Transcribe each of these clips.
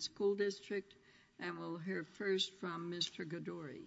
School District, and we'll hear first from Mr. Goddory.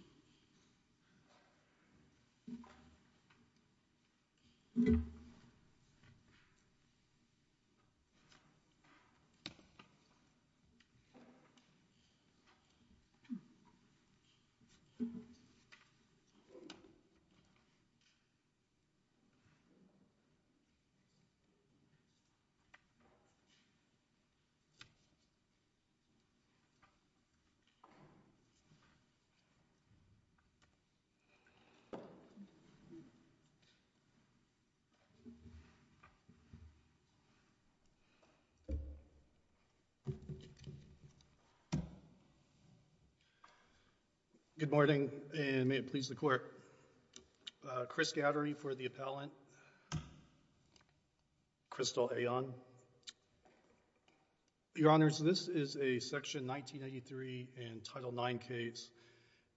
Good morning, and may it please the Court. Chris Goddory for the appellant. Crystal Ayon. Your Honors, this is a Section 1993 and Title IX case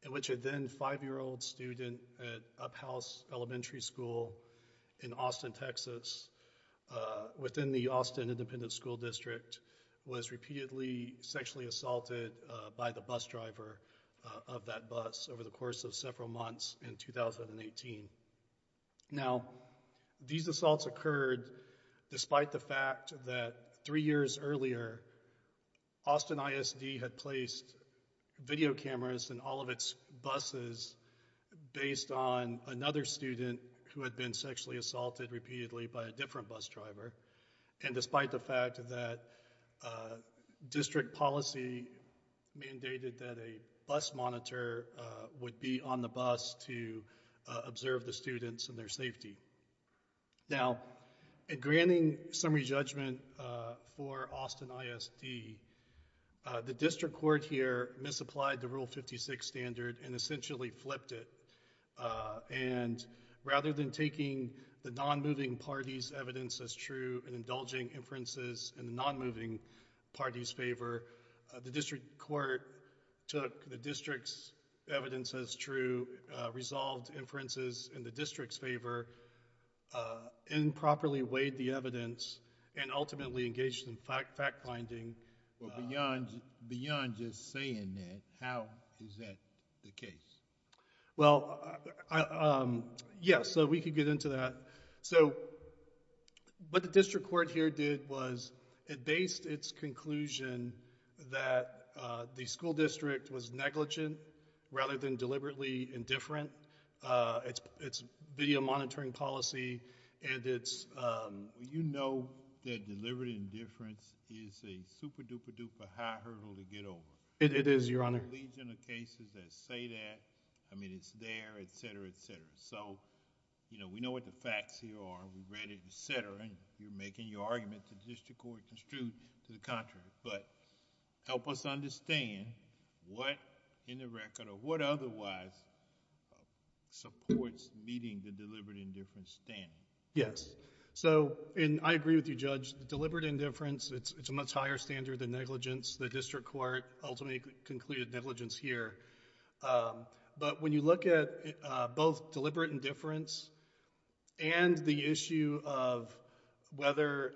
in which a then five-year-old student at Uphouse Elementary School in Austin, Texas, within the Austin Independent School District, was repeatedly sexually assaulted by the bus driver of that bus over the course of several months in 2018. Now, these assaults occurred despite the fact that three years earlier, Austin ISD had placed video cameras in all of its buses based on another student who had been sexually assaulted repeatedly by a different bus driver, and despite the fact that district policy mandated that a bus monitor would be on the bus to observe the students and their safety. Now, in granting summary judgment for Austin ISD, the district court here misapplied the Rule 56 standard and essentially flipped it, and rather than taking the non-moving party's evidence as true and indulging inferences in the non-moving party's favor, the district court took the district's evidence as true, resolved inferences in the district's favor, improperly weighed the evidence, and ultimately engaged in fact-finding. Well, beyond just saying that, how is that the case? Well, yeah, so we could get into that. So, what the district court here did was it based its conclusion that the school district was negligent rather than deliberately indifferent. It's video monitoring policy, and it's... Well, you know that deliberate indifference is a super-duper-duper high hurdle to get over. It is, Your Honor. There are a legion of cases that say that. I mean, it's there, et cetera, et cetera. So, you know, we know what the facts here are. We read it, et cetera, and you're making your argument that the district court construed to the contrary. But help us understand what in the record or what otherwise supports meeting the deliberate indifference standard. Yes. So, and I agree with you, Judge. Deliberate indifference, it's a much higher standard than negligence. The district court ultimately concluded negligence here. But when you look at both deliberate indifference and the issue of whether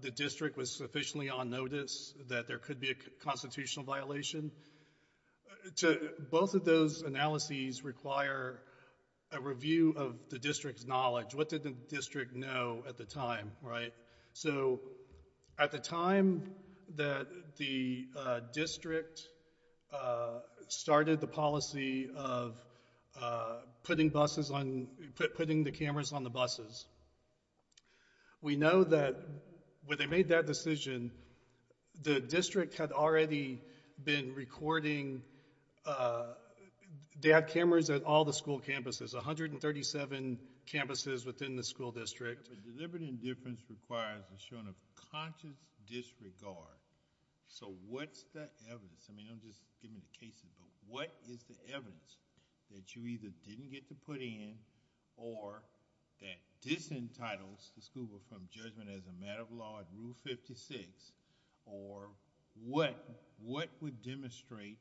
the district was sufficiently on notice that there could be a constitutional violation, both of those analyses require a review of the district's knowledge. What did the district know at the time, right? So at the time that the district started the policy of putting the cameras on the buses, we know that when they made that decision, the district had already been recording. They had cameras at all the school campuses, 137 campuses within the school district. But deliberate indifference requires the showing of conscious disregard. So what's the evidence? I mean, don't just give me the cases, but what is the evidence that you either didn't get to put in or that disentitles the school from judgment as a matter of law at Rule 56, or what would demonstrate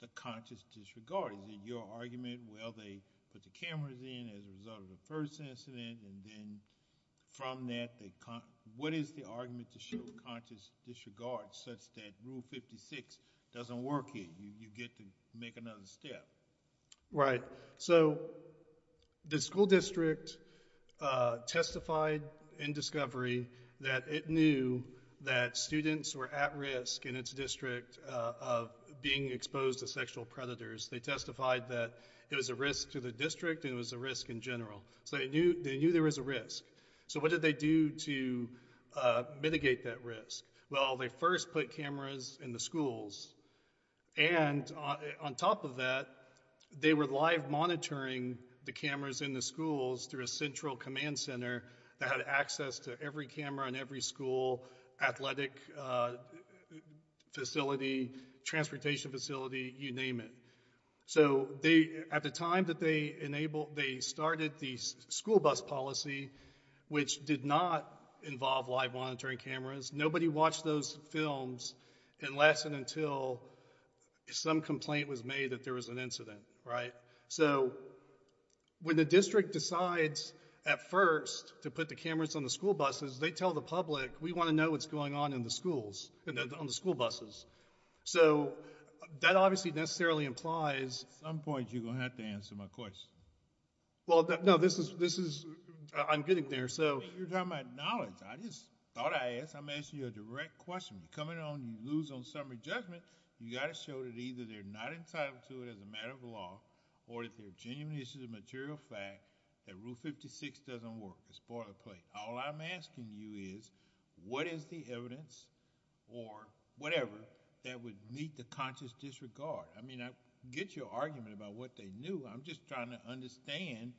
the conscious disregard? Is it your argument, well, they put the cameras in as a result of the first incident and then from that, what is the argument to show conscious disregard such that Rule 56 doesn't work here? You get to make another step. Right. So the school district testified in discovery that it knew that students were at risk in its district of being exposed to sexual predators. They testified that it was a risk to the district and it was a risk in general. So they knew there was a risk. So what did they do to mitigate that risk? Well, they first put cameras in the schools. And on top of that, they were live monitoring the cameras in the schools through a central command center that had access to every camera in every school, athletic facility, transportation facility, you name it. So at the time that they started the school bus policy, which did not involve live monitoring cameras, nobody watched those films unless and until some complaint was made that there was an incident. So when the district decides at first to put the cameras on the school buses, they tell the public, we want to know what's going on in the schools, on the school buses. So that obviously necessarily implies— At some point, you're going to have to answer my question. Well, no, this is—I'm getting there. You're talking about knowledge. I just thought I'd ask—I'm asking you a direct question. You come in on and you lose on summary judgment, you've got to show that either they're not entitled to it as a matter of law or that there are genuine issues of material fact that Rule 56 doesn't work. It's boilerplate. All I'm asking you is what is the evidence or whatever that would meet the conscious disregard? I mean, I get your argument about what they knew. I'm just trying to understand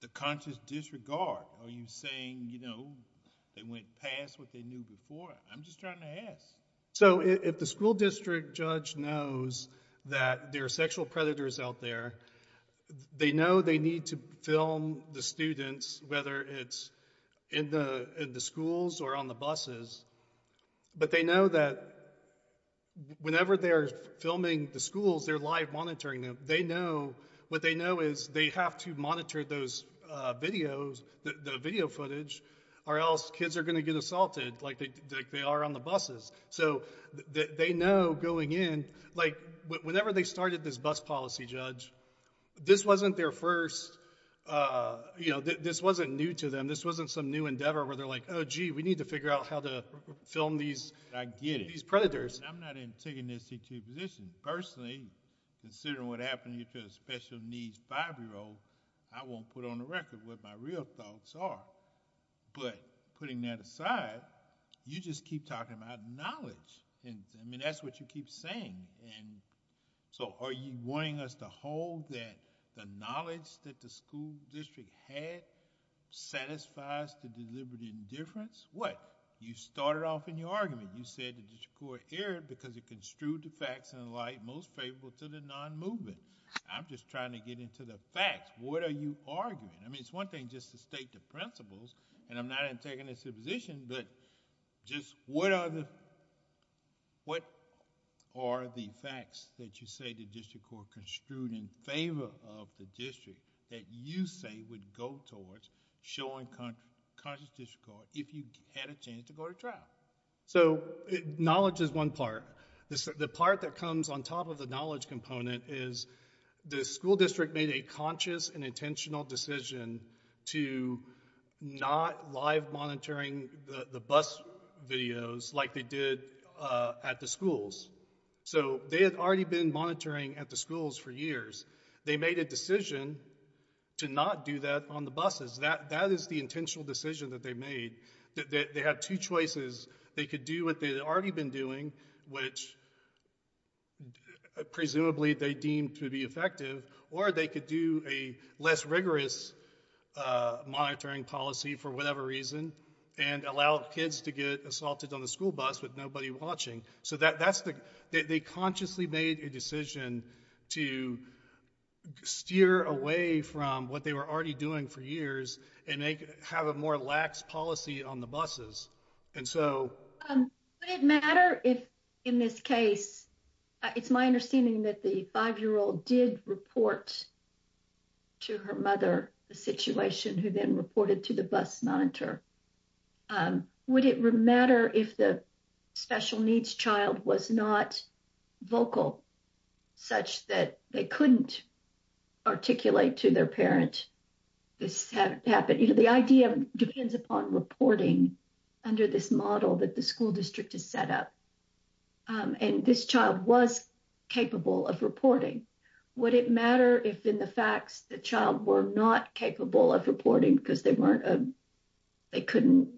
the conscious disregard. Are you saying, you know, they went past what they knew before? I'm just trying to ask. So if the school district judge knows that there are sexual predators out there, they know they need to film the students, whether it's in the schools or on the buses, but they know that whenever they're filming the schools, they're live monitoring them. They know—what they know is they have to monitor those videos, the video footage, or else kids are going to get assaulted like they are on the buses. So they know going in, like, whenever they started this bus policy, Judge, this wasn't their first—you know, this wasn't new to them. This wasn't some new endeavor where they're like, oh, gee, we need to figure out how to film these predators. I'm not in taking this position. Personally, considering what happened to a special needs 5-year-old, I won't put on the record what my real thoughts are. But putting that aside, you just keep talking about knowledge. I mean, that's what you keep saying. So are you wanting us to hold that the knowledge that the school district had satisfies the deliberate indifference? What? You started off in your argument. You said the district court erred because it construed the facts in a light most favorable to the non-movement. I'm just trying to get into the facts. What are you arguing? I mean, it's one thing just to state the principles, and I'm not in taking this position. But just what are the facts that you say the district court construed in favor of the district that you say would go towards showing conscious district court if you had a chance to go to trial? So knowledge is one part. The part that comes on top of the knowledge component is the school district made a conscious and intentional decision to not live monitoring the bus videos like they did at the schools. So they had already been monitoring at the schools for years. They made a decision to not do that on the buses. That is the intentional decision that they made. They had two choices. They could do what they had already been doing, which presumably they deemed to be effective, or they could do a less rigorous monitoring policy for whatever reason and allow kids to get assaulted on the school bus with nobody watching. So they consciously made a decision to steer away from what they were already doing for years and have a more lax policy on the buses. Would it matter if, in this case, it's my understanding that the 5-year-old did report to her mother the situation, who then reported to the bus monitor. Would it matter if the special needs child was not vocal such that they couldn't articulate to their parent that this happened? The idea depends upon reporting under this model that the school district has set up. And this child was capable of reporting. Would it matter if, in the facts, the child were not capable of reporting because they couldn't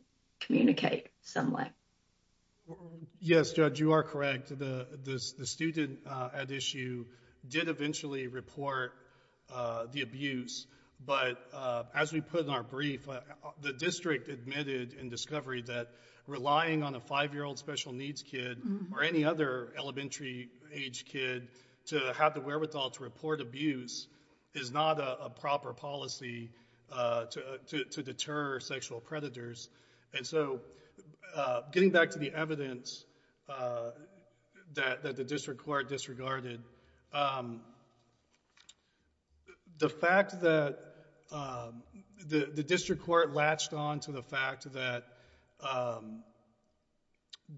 communicate some way? Yes, Judge, you are correct. The student at issue did eventually report the abuse. But as we put in our brief, the district admitted in discovery that relying on a 5-year-old special needs kid or any other elementary-aged kid to have the wherewithal to report abuse is not a proper policy to deter sexual predators. And so getting back to the evidence that the district court disregarded, the fact that the district court latched on to the fact that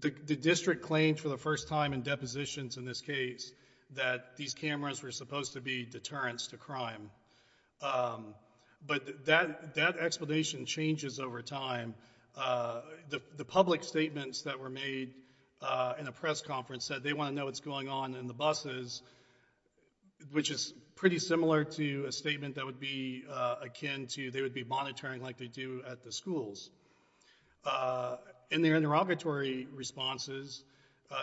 the district claimed for the first time in depositions in this case that these cameras were supposed to be deterrents to crime. But that explanation changes over time. The public statements that were made in a press conference said they want to know what's going on in the buses, which is pretty similar to a statement that would be akin to they would be monitoring like they do at the schools. In their interrogatory responses,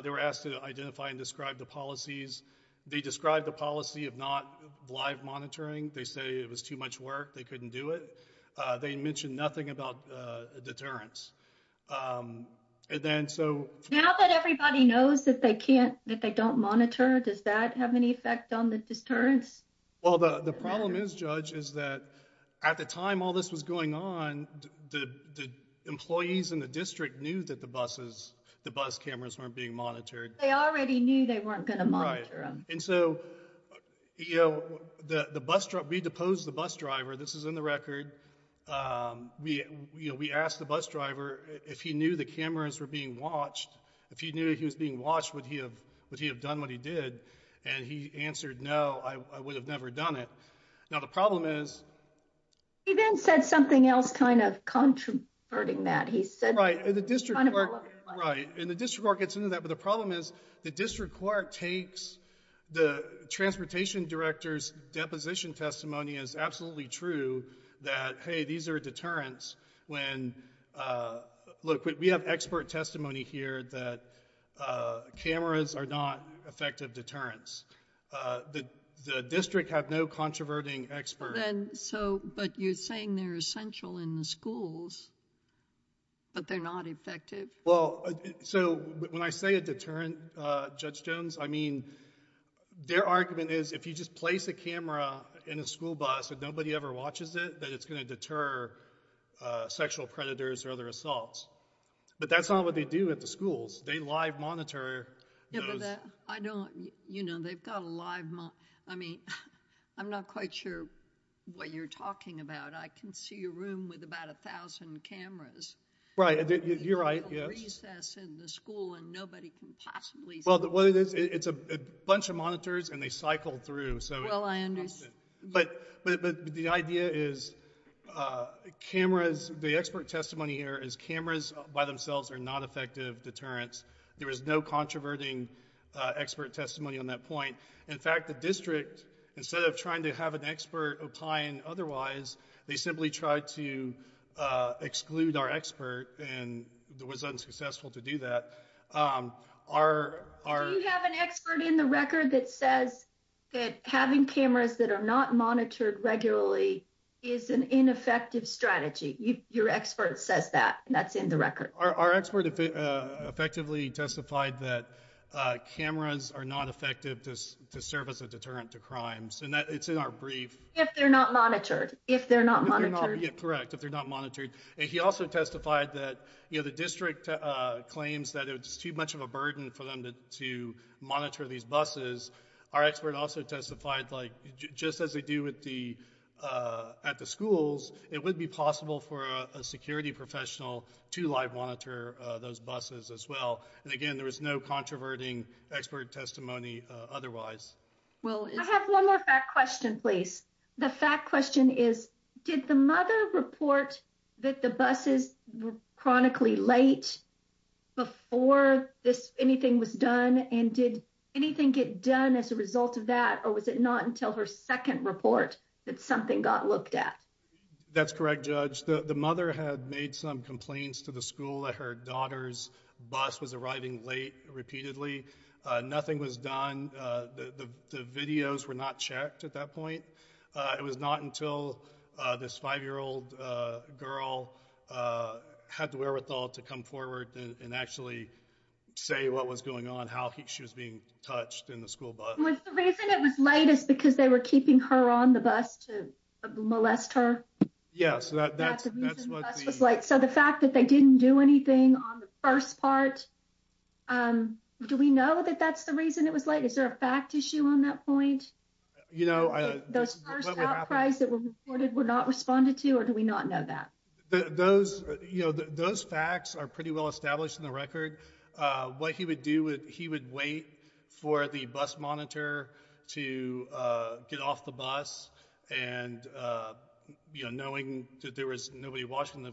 they were asked to identify and describe the policies. They described the policy of not live monitoring. They say it was too much work. They couldn't do it. They mentioned nothing about deterrence. Now that everybody knows that they don't monitor, does that have any effect on the deterrence? Well, the problem is, Judge, is that at the time all this was going on, the employees in the district knew that the bus cameras weren't being monitored. They already knew they weren't going to monitor them. And so we deposed the bus driver. This is in the record. We asked the bus driver if he knew the cameras were being watched. If he knew he was being watched, would he have done what he did? And he answered, no, I would have never done it. Now, the problem is— He then said something else kind of contraverting that. Right, and the district court gets into that. But the problem is the district court takes the transportation director's deposition testimony as absolutely true that, hey, these are deterrents. Look, we have expert testimony here that cameras are not effective deterrents. The district had no controverting experts. But you're saying they're essential in the schools, but they're not effective. Well, so when I say a deterrent, Judge Jones, I mean their argument is if you just place a camera in a school bus and nobody ever watches it, that it's going to deter sexual predators or other assaults. But that's not what they do at the schools. They live monitor those. I don't—you know, they've got a live monitor. I mean, I'm not quite sure what you're talking about. I can see a room with about 1,000 cameras. Right, you're right, yes. Recess in the school and nobody can possibly see. Well, it's a bunch of monitors, and they cycle through. Well, I understand. But the idea is cameras—the expert testimony here is cameras by themselves are not effective deterrents. There is no controverting expert testimony on that point. In fact, the district, instead of trying to have an expert opine otherwise, they simply tried to exclude our expert and was unsuccessful to do that. Do you have an expert in the record that says that having cameras that are not monitored regularly is an ineffective strategy? Your expert says that, and that's in the record. Our expert effectively testified that cameras are not effective to serve as a deterrent to crimes, and it's in our brief. If they're not monitored. Correct, if they're not monitored. He also testified that the district claims that it's too much of a burden for them to monitor these buses. Our expert also testified just as they do at the schools, it would be possible for a security professional to live monitor those buses as well. And again, there was no controverting expert testimony otherwise. I have one more fact question, please. The fact question is, did the mother report that the buses were chronically late before anything was done, and did anything get done as a result of that, or was it not until her second report that something got looked at? That's correct, Judge. The mother had made some complaints to the school that her daughter's bus was arriving late repeatedly. Nothing was done. The videos were not checked at that point. It was not until this 5-year-old girl had the wherewithal to come forward and actually say what was going on, how she was being touched in the school bus. Was the reason it was late is because they were keeping her on the bus to molest her? That's the reason the bus was late. So the fact that they didn't do anything on the first part, do we know that that's the reason it was late? Is there a fact issue on that point? Those first outcries that were reported were not responded to, or do we not know that? Those facts are pretty well established in the record. What he would do, he would wait for the bus monitor to get off the bus, and knowing that there was nobody watching the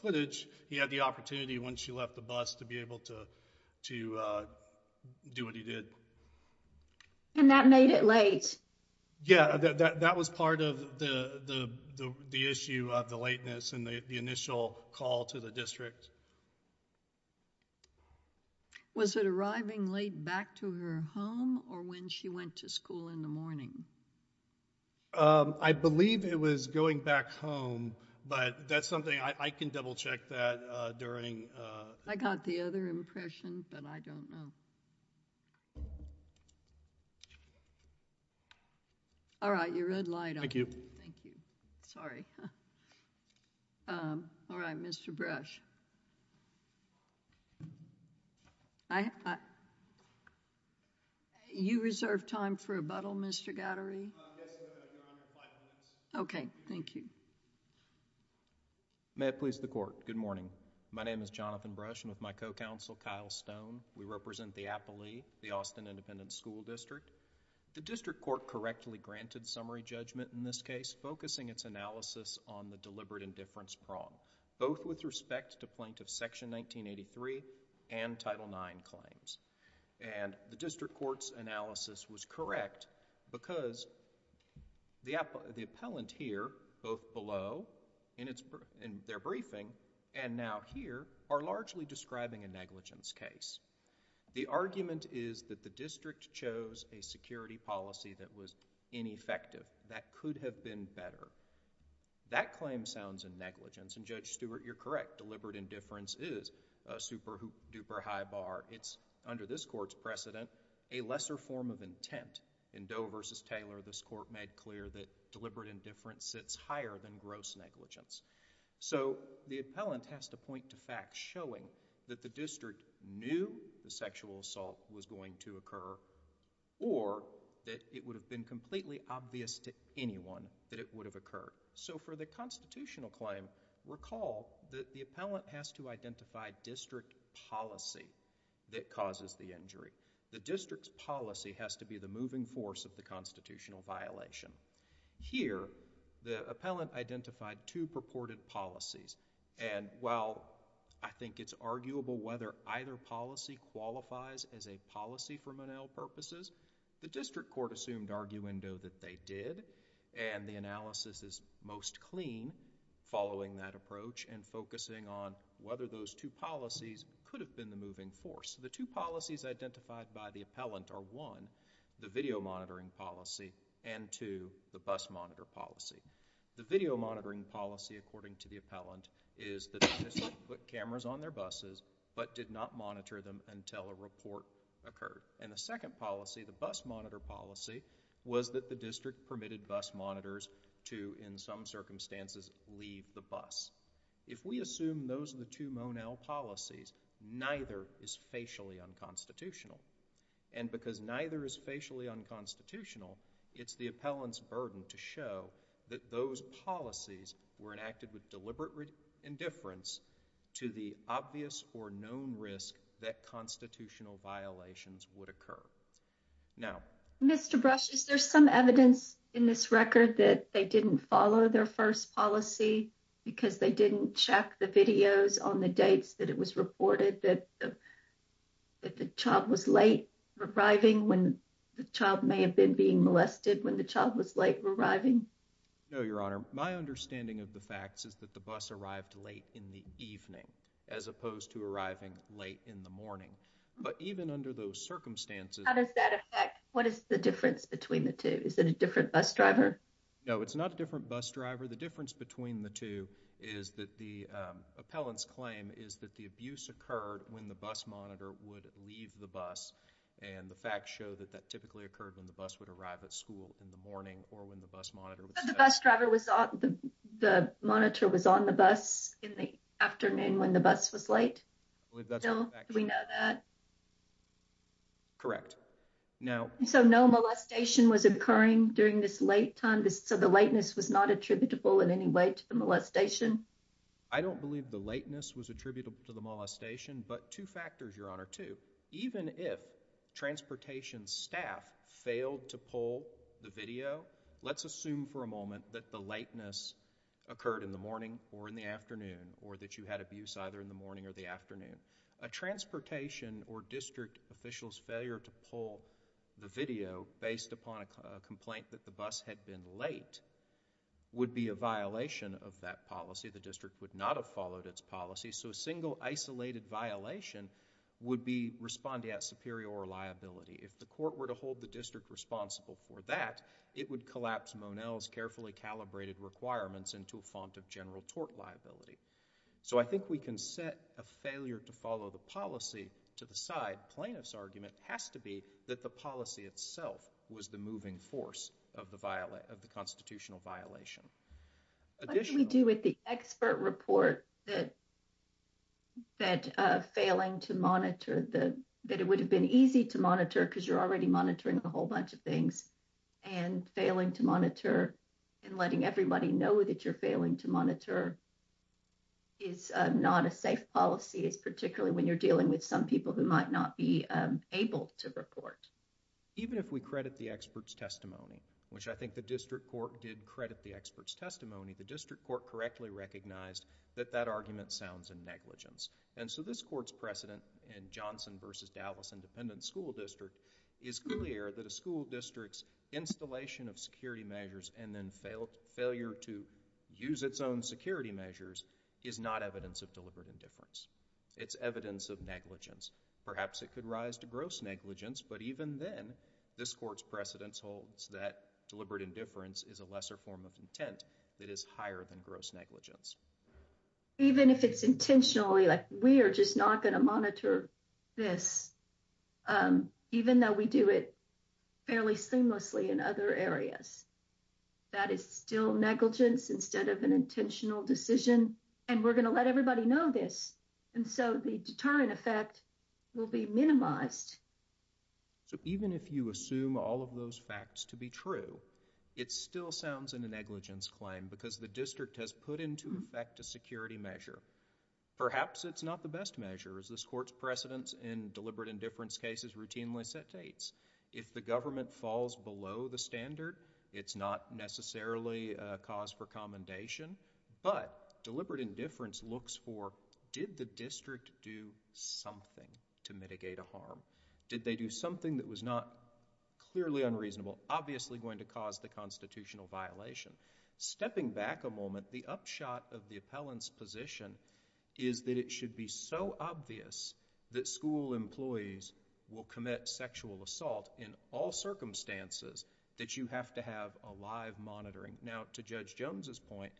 footage, he had the opportunity once she left the bus to be able to do what he did. And that made it late? Yeah, that was part of the issue of the lateness and the initial call to the district. Was it arriving late back to her home or when she went to school in the morning? I believe it was going back home, but that's something I can double-check that during. I got the other impression, but I don't know. All right, your red light. Thank you. Sorry. All right, Mr. Brush. I... You reserve time for rebuttal, Mr. Gowdery? Yes, Your Honor, five minutes. Okay, thank you. May it please the Court. Good morning. My name is Jonathan Brush, and with my co-counsel, Kyle Stone, we represent the Appalee, the Austin Independent School District. The district court correctly granted summary judgment in this case, focusing its analysis on the deliberate indifference prong, both with respect to Plaintiff Section 1983 and Title IX claims. And the district court's analysis was correct because the appellant here, both below in their briefing, and now here, are largely describing a negligence case. The argument is that the district chose a security policy that was ineffective. That could have been better. That claim sounds a negligence, and Judge Stewart, you're correct. Deliberate indifference is a super duper high bar. It's, under this court's precedent, a lesser form of intent. In Doe v. Taylor, this court made clear that deliberate indifference sits higher than gross negligence. So the appellant has to point to facts showing that the district knew the sexual assault was going to occur, or that it would have been completely obvious to anyone that it would have occurred. So for the constitutional claim, recall that the appellant has to identify district policy that causes the injury. The district's policy has to be the moving force of the constitutional violation. Here, the appellant identified two purported policies, and while I think it's arguable whether either policy qualifies as a policy for Monell purposes, the district court assumed arguendo that they did, and the analysis is most clean following that approach and focusing on whether those two policies could have been the moving force. The two policies identified by the appellant are, one, the video monitoring policy, and two, the bus monitor policy. The video monitoring policy, according to the appellant, is that the district put cameras on their buses but did not monitor them until a report occurred. And the second policy, the bus monitor policy, was that the district permitted bus monitors to, in some circumstances, leave the bus. If we assume those are the two Monell policies, neither is facially unconstitutional. And because neither is facially unconstitutional, it's the appellant's burden to show that those policies were enacted with deliberate indifference to the obvious or known risk that constitutional violations would occur. Now... Mr. Brush, is there some evidence in this record that they didn't follow their first policy because they didn't check the videos on the dates that it was reported that the child was late arriving when the child may have been being molested when the child was late arriving? No, Your Honor. My understanding of the facts is that the bus arrived late in the evening as opposed to arriving late in the morning. But even under those circumstances... How does that affect... What is the difference between the two? Is it a different bus driver? No, it's not a different bus driver. The difference between the two is that the appellant's claim is that the abuse occurred when the bus monitor would leave the bus. And the facts show that that typically occurred when the bus would arrive at school in the morning or when the bus monitor... But the bus driver was on... The monitor was on the bus in the afternoon when the bus was late? Do we know that? So no molestation was occurring during this late time? So the lateness was not attributable in any way to the molestation? I don't believe the lateness was attributable to the molestation, but two factors, Your Honor, too. Even if transportation staff failed to pull the video, let's assume for a moment that the lateness occurred in the morning or in the afternoon or that you had abuse either in the morning or the afternoon, a transportation or district official's failure to pull the video based upon a complaint that the bus had been late would be a violation of that policy. The district would not have followed its policy. So a single isolated violation would be respondeat superior liability. If the court were to hold the district responsible for that, it would collapse Monell's carefully calibrated requirements into a font of general tort liability. So I think we can set a failure to follow the policy to the side. Plaintiff's argument has to be that the policy itself was the moving force of the constitutional violation. What do we do with the expert report that failing to monitor, that it would have been easy to monitor because you're already monitoring a whole bunch of things and failing to monitor and letting everybody know that you're failing to monitor is not a safe policy. It's particularly when you're dealing with some people who might not be able to report. Even if we credit the expert's testimony, which I think the district court did credit the expert's testimony, the district court correctly recognized that that argument sounds a negligence. And so this court's precedent in Johnson versus Dallas Independent School District is clear that a school district's installation of security measures and then failure to use its own security measures is not evidence of deliberate indifference. It's evidence of negligence. Perhaps it could rise to gross negligence, but even then this court's precedence holds that deliberate indifference is a lesser form of intent that is higher than gross negligence. Even if it's intentionally like we are just not going to monitor this, even though we do it fairly seamlessly in other areas, that is still negligence instead of an intentional decision, and we're going to let everybody know this. And so the deterrent effect will be minimized. So even if you assume all of those facts to be true, it still sounds in a negligence claim because the district has put into effect a security measure. Perhaps it's not the best measure. This court's precedence in deliberate indifference cases routinely set dates. If the government falls below the standard, it's not necessarily a cause for commendation, but deliberate indifference looks for did the district do something to mitigate a harm? Did they do something that was not clearly unreasonable, obviously going to cause the constitutional violation? Stepping back a moment, the upshot of the appellant's position is that it should be so obvious that school employees will commit sexual assault in all circumstances that you have to have a live monitoring. Now, to Judge Jones's point,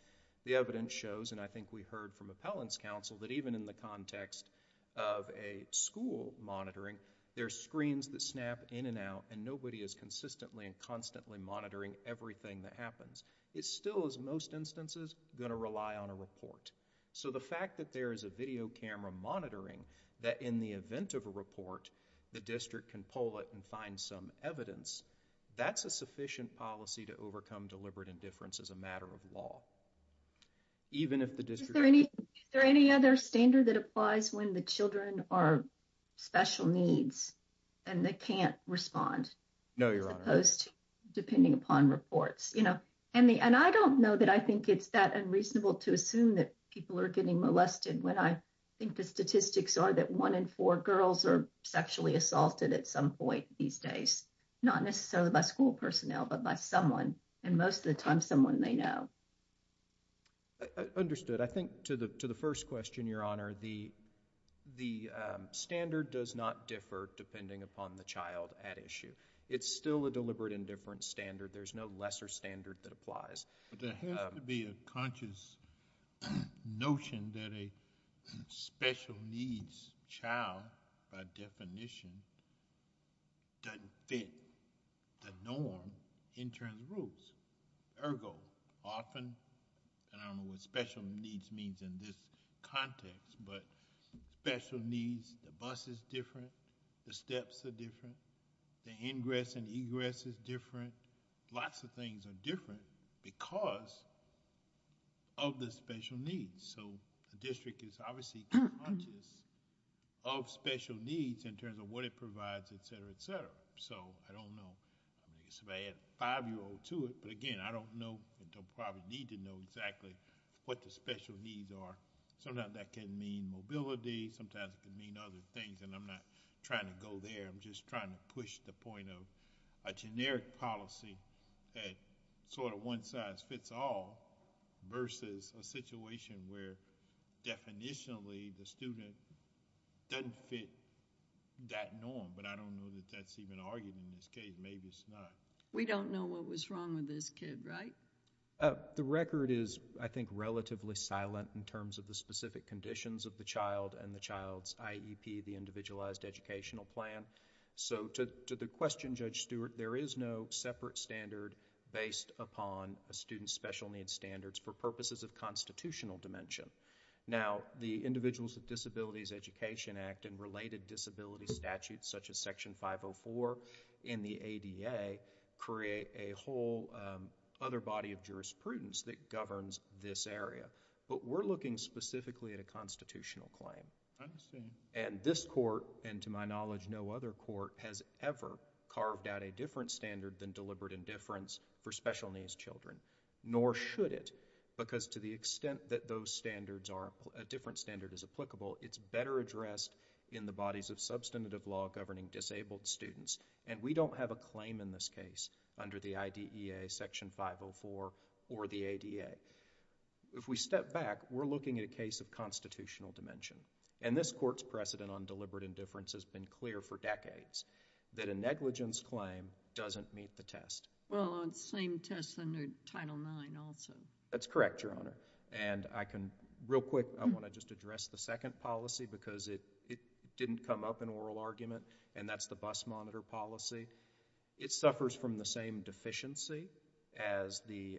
the evidence shows, and I think we heard from appellant's counsel, that even in the context of a school monitoring, there are screens that snap in and out, and nobody is consistently and constantly monitoring everything that happens. It still is, in most instances, going to rely on a report. So the fact that there is a video camera monitoring that in the event of a report, the district can pull it and find some evidence, that's a sufficient policy to overcome deliberate indifference as a matter of law. Even if the district... Is there any other standard that applies when the children are special needs and they can't respond? No, Your Honor. As opposed to depending upon reports. And I don't know that I think it's that unreasonable to assume that people are getting molested when I think the statistics are that one in four girls are sexually assaulted at some point these days. Not necessarily by school personnel, but by someone. And most of the time, someone they know. Understood. I think to the first question, Your Honor, the standard does not differ depending upon the child at issue. It's still a deliberate indifference standard. There's no lesser standard that applies. There has to be a conscious notion that a special needs child, by definition, doesn't fit the norm in terms of rules. Ergo, often, and I don't know what special needs means in this context, but special needs, the bus is different, the steps are different, the ingress and egress is different. Lots of things are different because of the special needs. The district is obviously conscious of special needs in terms of what it provides, et cetera, et cetera. I don't know. I guess if I add a five-year-old to it, but again, I don't know and don't probably need to know exactly what the special needs are. Sometimes that can mean mobility. Sometimes it can mean other things, and I'm not trying to go there. I'm just trying to push the point of a generic policy that sort of one size fits all versus a situation where definitionally the student doesn't fit that norm, but I don't know that that's even argued in this case. Maybe it's not. We don't know what was wrong with this kid, right? The record is, I think, relatively silent in terms of the specific conditions of the child and the child's IEP, the Individualized Educational Plan. To the question, Judge Stewart, there is no separate standard based upon a student's special needs standards for purposes of constitutional dimension. Now, the Individuals with Disabilities Education Act and related disability statutes such as Section 504 in the ADA create a whole other body of jurisprudence that governs this area, but we're looking specifically at a constitutional claim. I understand. This court, and to my knowledge no other court, has ever carved out a different standard than deliberate indifference for special needs children, nor should it, because to the extent that a different standard is applicable, it's better addressed in the bodies of substantive law governing disabled students, and we don't have a claim in this case under the IDEA, Section 504, or the ADA. If we step back, we're looking at a case of constitutional dimension, and this court's precedent on deliberate indifference has been clear for decades, that a negligence claim doesn't meet the test. Well, on the same test under Title IX also. That's correct, Your Honor, and I can, real quick, I want to just address the second policy because it didn't come up in oral argument, and that's the bus monitor policy. It suffers from the same deficiency as the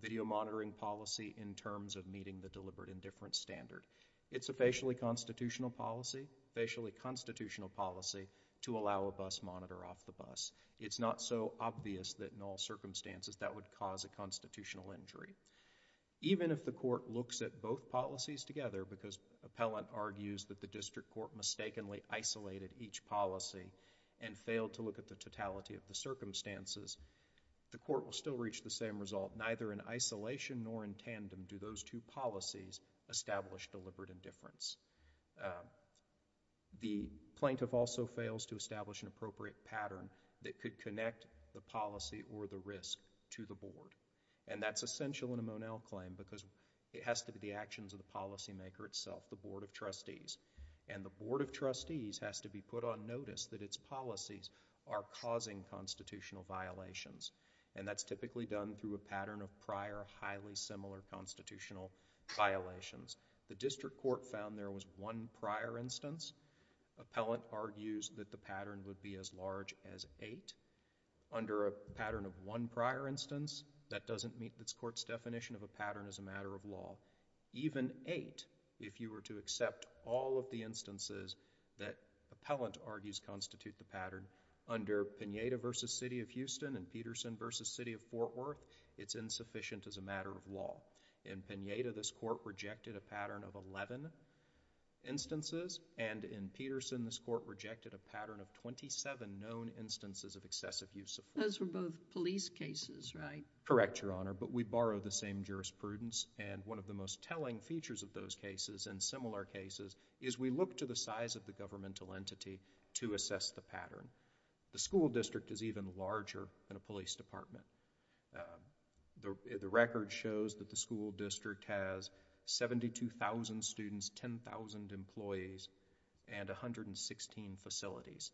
video monitoring policy in terms of meeting the deliberate indifference standard. It's a facially constitutional policy, facially constitutional policy, to allow a bus monitor off the bus. It's not so obvious that in all circumstances that would cause a constitutional injury. Even if the court looks at both policies together, because appellant argues that the district court mistakenly isolated each policy and failed to look at the totality of the circumstances, the court will still reach the same result. Neither in isolation nor in tandem do those two policies establish deliberate indifference. The plaintiff also fails to establish an appropriate pattern that could connect the policy or the risk to the board, and that's essential in a Monell claim because it has to be the actions of the policymaker itself, the board of trustees, and the board of trustees has to be put on notice that its policies are causing constitutional violations, and that's typically done through a pattern of prior, highly similar constitutional violations. The district court found there was one prior instance. Appellant argues that the pattern would be as large as eight. Under a pattern of one prior instance, that doesn't meet the court's definition of a pattern as a matter of law. Even eight, if you were to accept all of the instances that appellant argues constitute the pattern, under Pineda v. City of Houston and Peterson v. City of Fort Worth, it's insufficient as a matter of law. In Pineda, this court rejected a pattern of 11 instances, and in Peterson, this court rejected a pattern of 27 known instances of excessive use of force. Those were both police cases, right? Correct, Your Honor, but we borrow the same jurisprudence, and one of the most telling features of those cases and similar cases is we look to the size of the governmental entity to assess the pattern. The school district is even larger than a police department. The record shows that the school district has 72,000 students, 10,000 employees, and 116 facilities.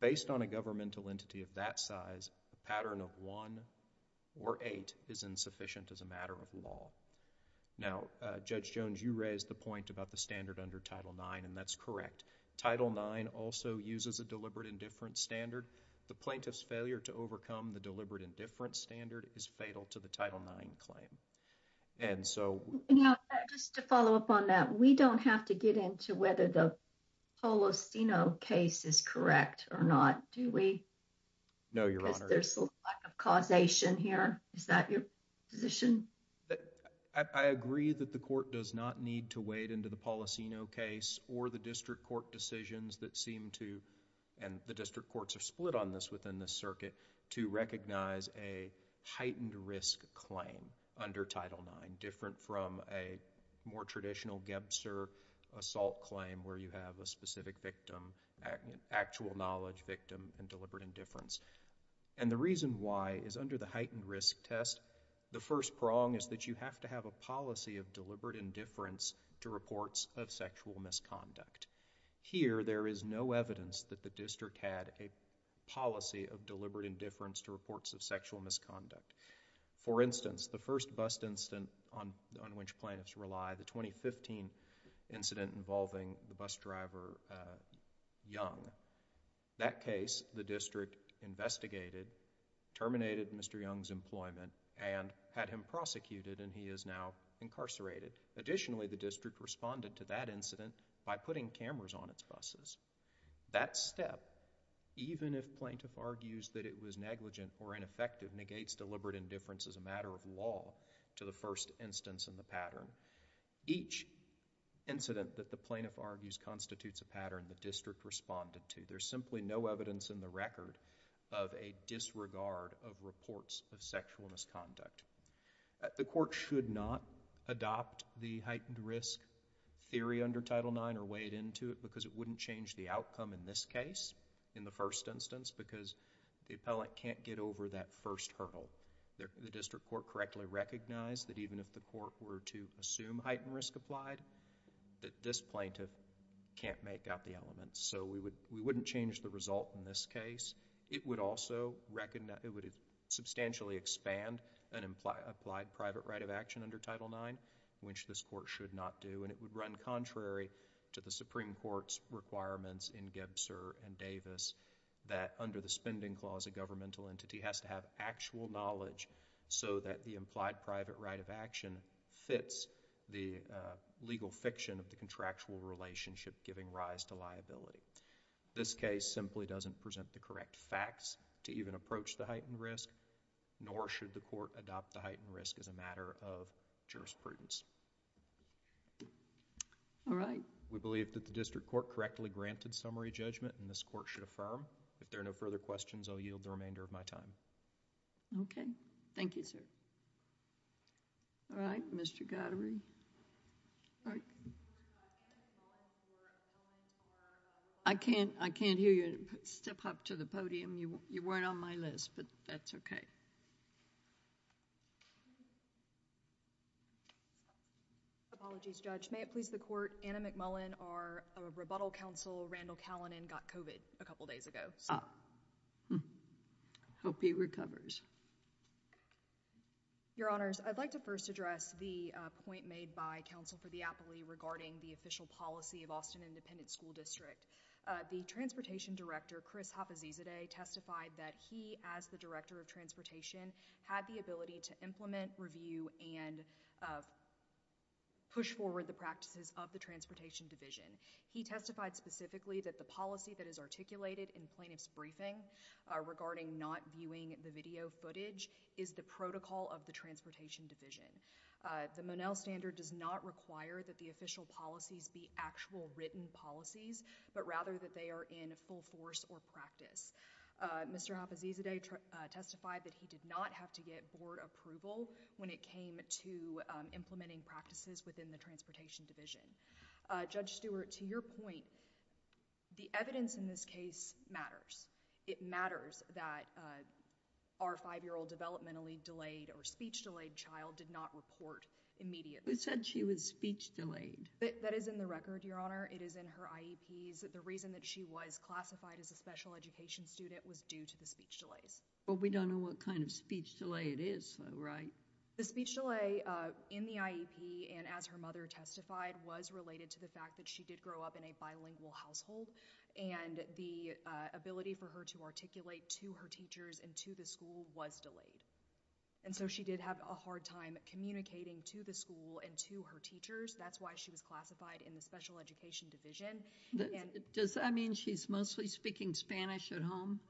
Based on a governmental entity of that size, a pattern of one or eight is insufficient as a matter of law. Now, Judge Jones, you raised the point about the standard under Title IX, and that's correct. Title IX also uses a deliberate indifference standard. The plaintiff's failure to overcome the deliberate indifference standard is fatal to the Title IX claim. Now, just to follow up on that, we don't have to get into whether the Polosino case is correct or not, do we? No, Your Honor. There's a lack of causation here. Is that your position? I agree that the court does not need to wade into the Polosino case or the district court decisions that seem to, and the district courts are split on this within the circuit, to recognize a heightened risk claim under Title IX, different from a more traditional Gebser assault claim where you have a specific victim, actual knowledge victim, and deliberate indifference. And the reason why is under the heightened risk test, the first prong is that you have to have a policy of deliberate indifference to reports of sexual misconduct. Here, there is no evidence that the district had a policy of deliberate indifference to reports of sexual misconduct. For instance, the first bust incident on which plaintiffs rely, the 2015 incident involving the bus driver Young, that case, the district investigated, terminated Mr. Young's employment, and had him prosecuted, and he is now incarcerated. Additionally, the district responded to that incident by putting cameras on its buses. That step, even if plaintiff argues that it was negligent or ineffective, negates deliberate indifference as a matter of law to the first instance in the pattern. Each incident that the plaintiff argues constitutes a pattern the district responded to. There's simply no evidence in the record of a disregard of reports of sexual misconduct. The court should not adopt the heightened risk theory under Title IX or wade into it because it wouldn't change the outcome in this case, in the first instance, because the appellant can't get over that first hurdle. The district court correctly recognized that even if the court were to assume heightened risk applied, that this plaintiff can't make out the elements, so we wouldn't change the result in this case. It would also substantially expand an implied private right of action under Title IX, which this court should not do, and it would run contrary to the Supreme Court's requirements in Gebser and Davis that under the spending clause, a governmental entity has to have actual knowledge so that the implied private right of action fits the legal fiction of the contractual relationship giving rise to liability. This case simply doesn't present the correct facts to even approach the heightened risk, nor should the court adopt the heightened risk as a matter of jurisprudence. All right. We believe that the district court correctly granted summary judgment, and this court should affirm. If there are no further questions, I'll yield the remainder of my time. Okay. Thank you, sir. All right. Mr. Goddery. All right. I can't hear you. Step up to the podium. You weren't on my list, but that's okay. Apologies, Judge. May it please the court, Anna McMullen, our rebuttal counsel, Randall Callinan got COVID a couple days ago. I hope he recovers. Your Honors, I'd like to first address the point made by counsel for the appellee regarding the official policy of Austin Independent School District. The transportation director, Chris Hapazizade, testified that he, as the director of transportation, had the ability to implement, review, and push forward the practices of the transportation division. He testified specifically that the policy that is articulated in plaintiff's briefing regarding not viewing the video footage is the protocol of the transportation division. The Monell standard does not require that the official policies be actual written policies, but rather that they are in full force or practice. Mr. Hapazizade testified that he did not have to get board approval when it came to implementing practices within the transportation division. Judge Stewart, to your point, the evidence in this case matters. It matters that our five-year-old developmentally delayed or speech-delayed child did not report immediately. Who said she was speech-delayed? That is in the record, Your Honor. It is in her IEPs. The reason that she was classified as a special education student was due to the speech delays. But we don't know what kind of speech delay it is, right? The speech delay in the IEP, and as her mother testified, was related to the fact that she did grow up in a bilingual household, and the ability for her to articulate to her teachers and to the school was delayed. And so she did have a hard time communicating to the school and to her teachers. That's why she was classified in the special education division. Does that mean she's mostly speaking Spanish at home?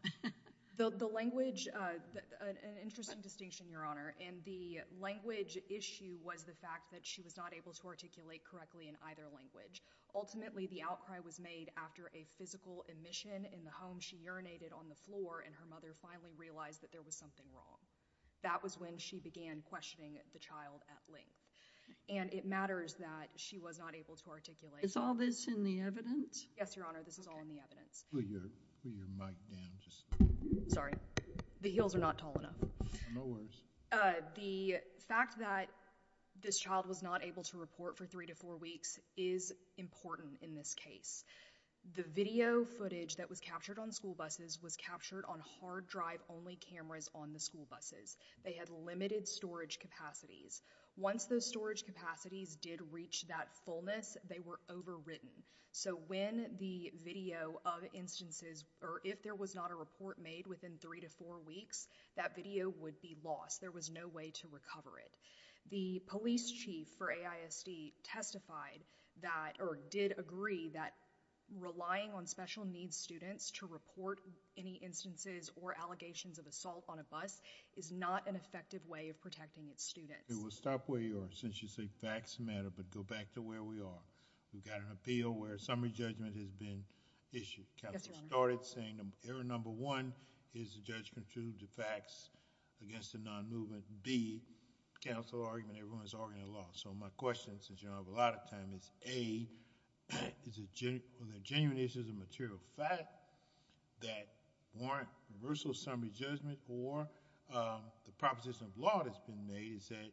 The language, an interesting distinction, Your Honor, and the language issue was the fact that she was not able to articulate correctly in either language. Ultimately, the outcry was made after a physical admission in the home. She urinated on the floor, and her mother finally realized that there was something wrong. That was when she began questioning the child at length. And it matters that she was not able to articulate. Is all this in the evidence? Yes, Your Honor, this is all in the evidence. Put your mic down. Sorry, the heels are not tall enough. No worries. The fact that this child was not able to report for three to four weeks is important in this case. The video footage that was captured on school buses was captured on hard drive-only cameras on the school buses. They had limited storage capacities. Once those storage capacities did reach that fullness, they were overwritten. So when the video of instances, or if there was not a report made within three to four weeks, that video would be lost. There was no way to recover it. The police chief for AISD testified that, or did agree that relying on special needs students to report any instances or allegations of assault on a bus is not an effective way of protecting its students. We will stop where you are, since you say facts matter, but go back to where we are. We've got an appeal where a summary judgment has been issued. Counsel started saying error number one is a judgment to the facts against a non-movement. B, counsel argument, everyone's arguing the law. So my question, since you don't have a lot of time, is A, are there genuine issues of material fact that warrant reversal of summary judgment? Or the proposition of law that's been made is that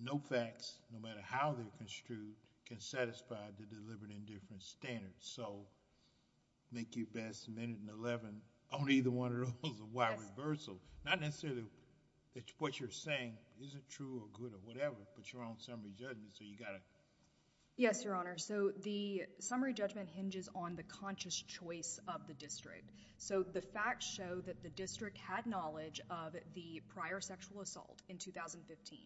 no facts, no matter how they're construed, can satisfy the deliberate indifference standard. So make your best minute and 11 on either one of those of why reversal. Not necessarily that what you're saying isn't true or good or whatever, but your own summary judgment, so you gotta. Yes, your honor. So the summary judgment hinges on the conscious choice of the district. So the facts show that the district had knowledge of the prior sexual assault in 2015.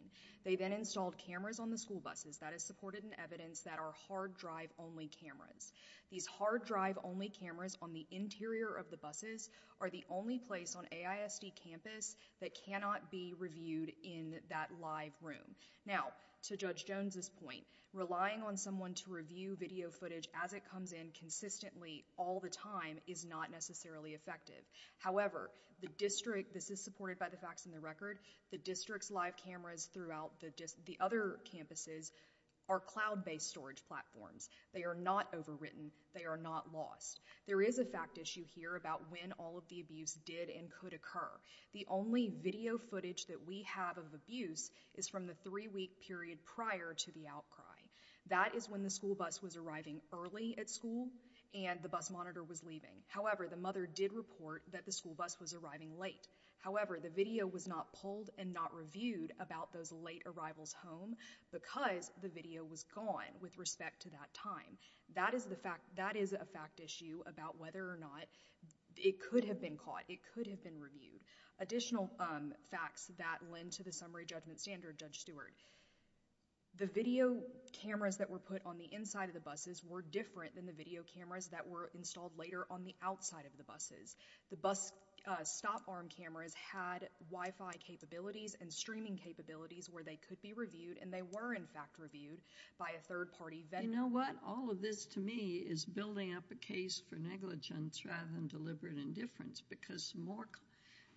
They then installed cameras on the school buses. That is supported in evidence that are hard drive only cameras. These hard drive only cameras on the interior of the buses are the only place on AISD campus that cannot be reviewed in that live room. Now, to Judge Jones's point, relying on someone to review video footage as it comes in consistently all the time is not necessarily effective. However, the district, this is supported by the facts in the record, the district's live cameras throughout the other campuses are cloud-based storage platforms. They are not overwritten, they are not lost. There is a fact issue here about when all of the abuse did and could occur. The only video footage that we have of abuse is from the three-week period prior to the outcry. That is when the school bus was arriving early at school and the bus monitor was leaving. However, the mother did report that the school bus was arriving late. However, the video was not pulled and not reviewed about those late arrivals home because the video was gone with respect to that time. That is a fact issue about whether or not it could have been caught, it could have been reviewed. Additional facts that lend to the summary judgment standard, Judge Stewart, the video cameras that were put on the inside of the buses were different than the video cameras that were installed later on the outside of the buses. The bus stop arm cameras had Wi-Fi capabilities and streaming capabilities where they could be reviewed and they were, in fact, reviewed by a third-party vendor. You know what? All of this, to me, is building up a case for negligence rather than deliberate indifference because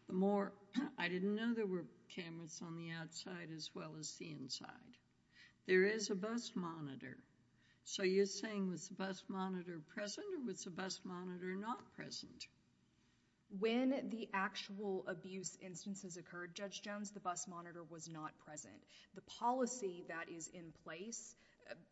the more... I didn't know there were cameras on the outside as well as the inside. There is a bus monitor. So you're saying, was the bus monitor present or was the bus monitor not present? When the actual abuse instances occurred, Judge Jones, the bus monitor was not present. The policy that is in place,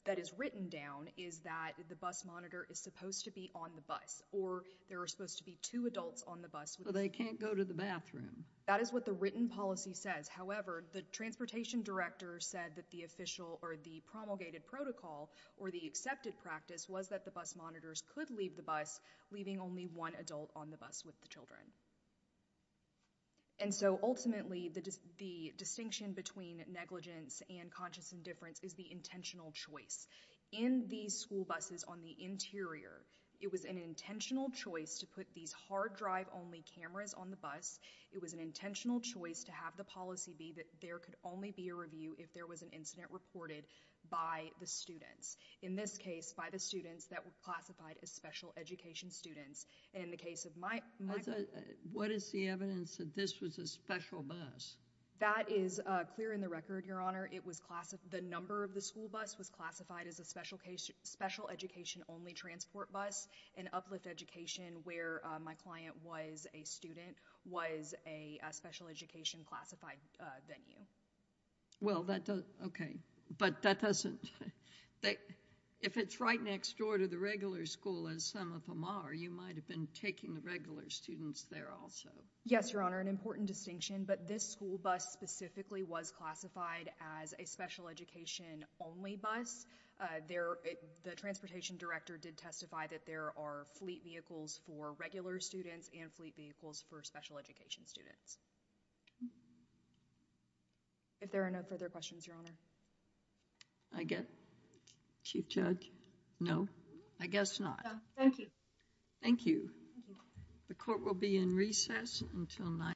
that is written down, is that the bus monitor is supposed to be on the bus or there are supposed to be two adults on the bus. So they can't go to the bathroom. That is what the written policy says. However, the transportation director said that the official or the promulgated protocol or the accepted practice was that the bus monitors could leave the bus, leaving only one adult on the bus with the children. And so ultimately, the distinction between negligence and conscious indifference is the intentional choice. In these school buses on the interior, it was an intentional choice to put these hard-drive-only cameras on the bus. It was an intentional choice to have the policy be that there could only be a review if there was an incident reported by the students. In this case, by the students that were classified as special education students. And in the case of my bus... What is the evidence that this was a special bus? That is clear in the record, Your Honor. It was classified... The number of the school bus was classified as a special education-only transport bus. An uplift education, where my client was a student, was a special education classified venue. Well, that doesn't... Okay, but that doesn't... If it's right next door to the regular school, as some of them are, you might have been taking the regular students there also. Yes, Your Honor, an important distinction. But this school bus specifically was classified as a special education-only bus. The transportation director did testify that there are fleet vehicles for regular students and fleet vehicles for special education students. If there are no further questions, Your Honor. I get... Chief Judge? No, I guess not. Thank you. Thank you. The court will be in recess until 9 p.m.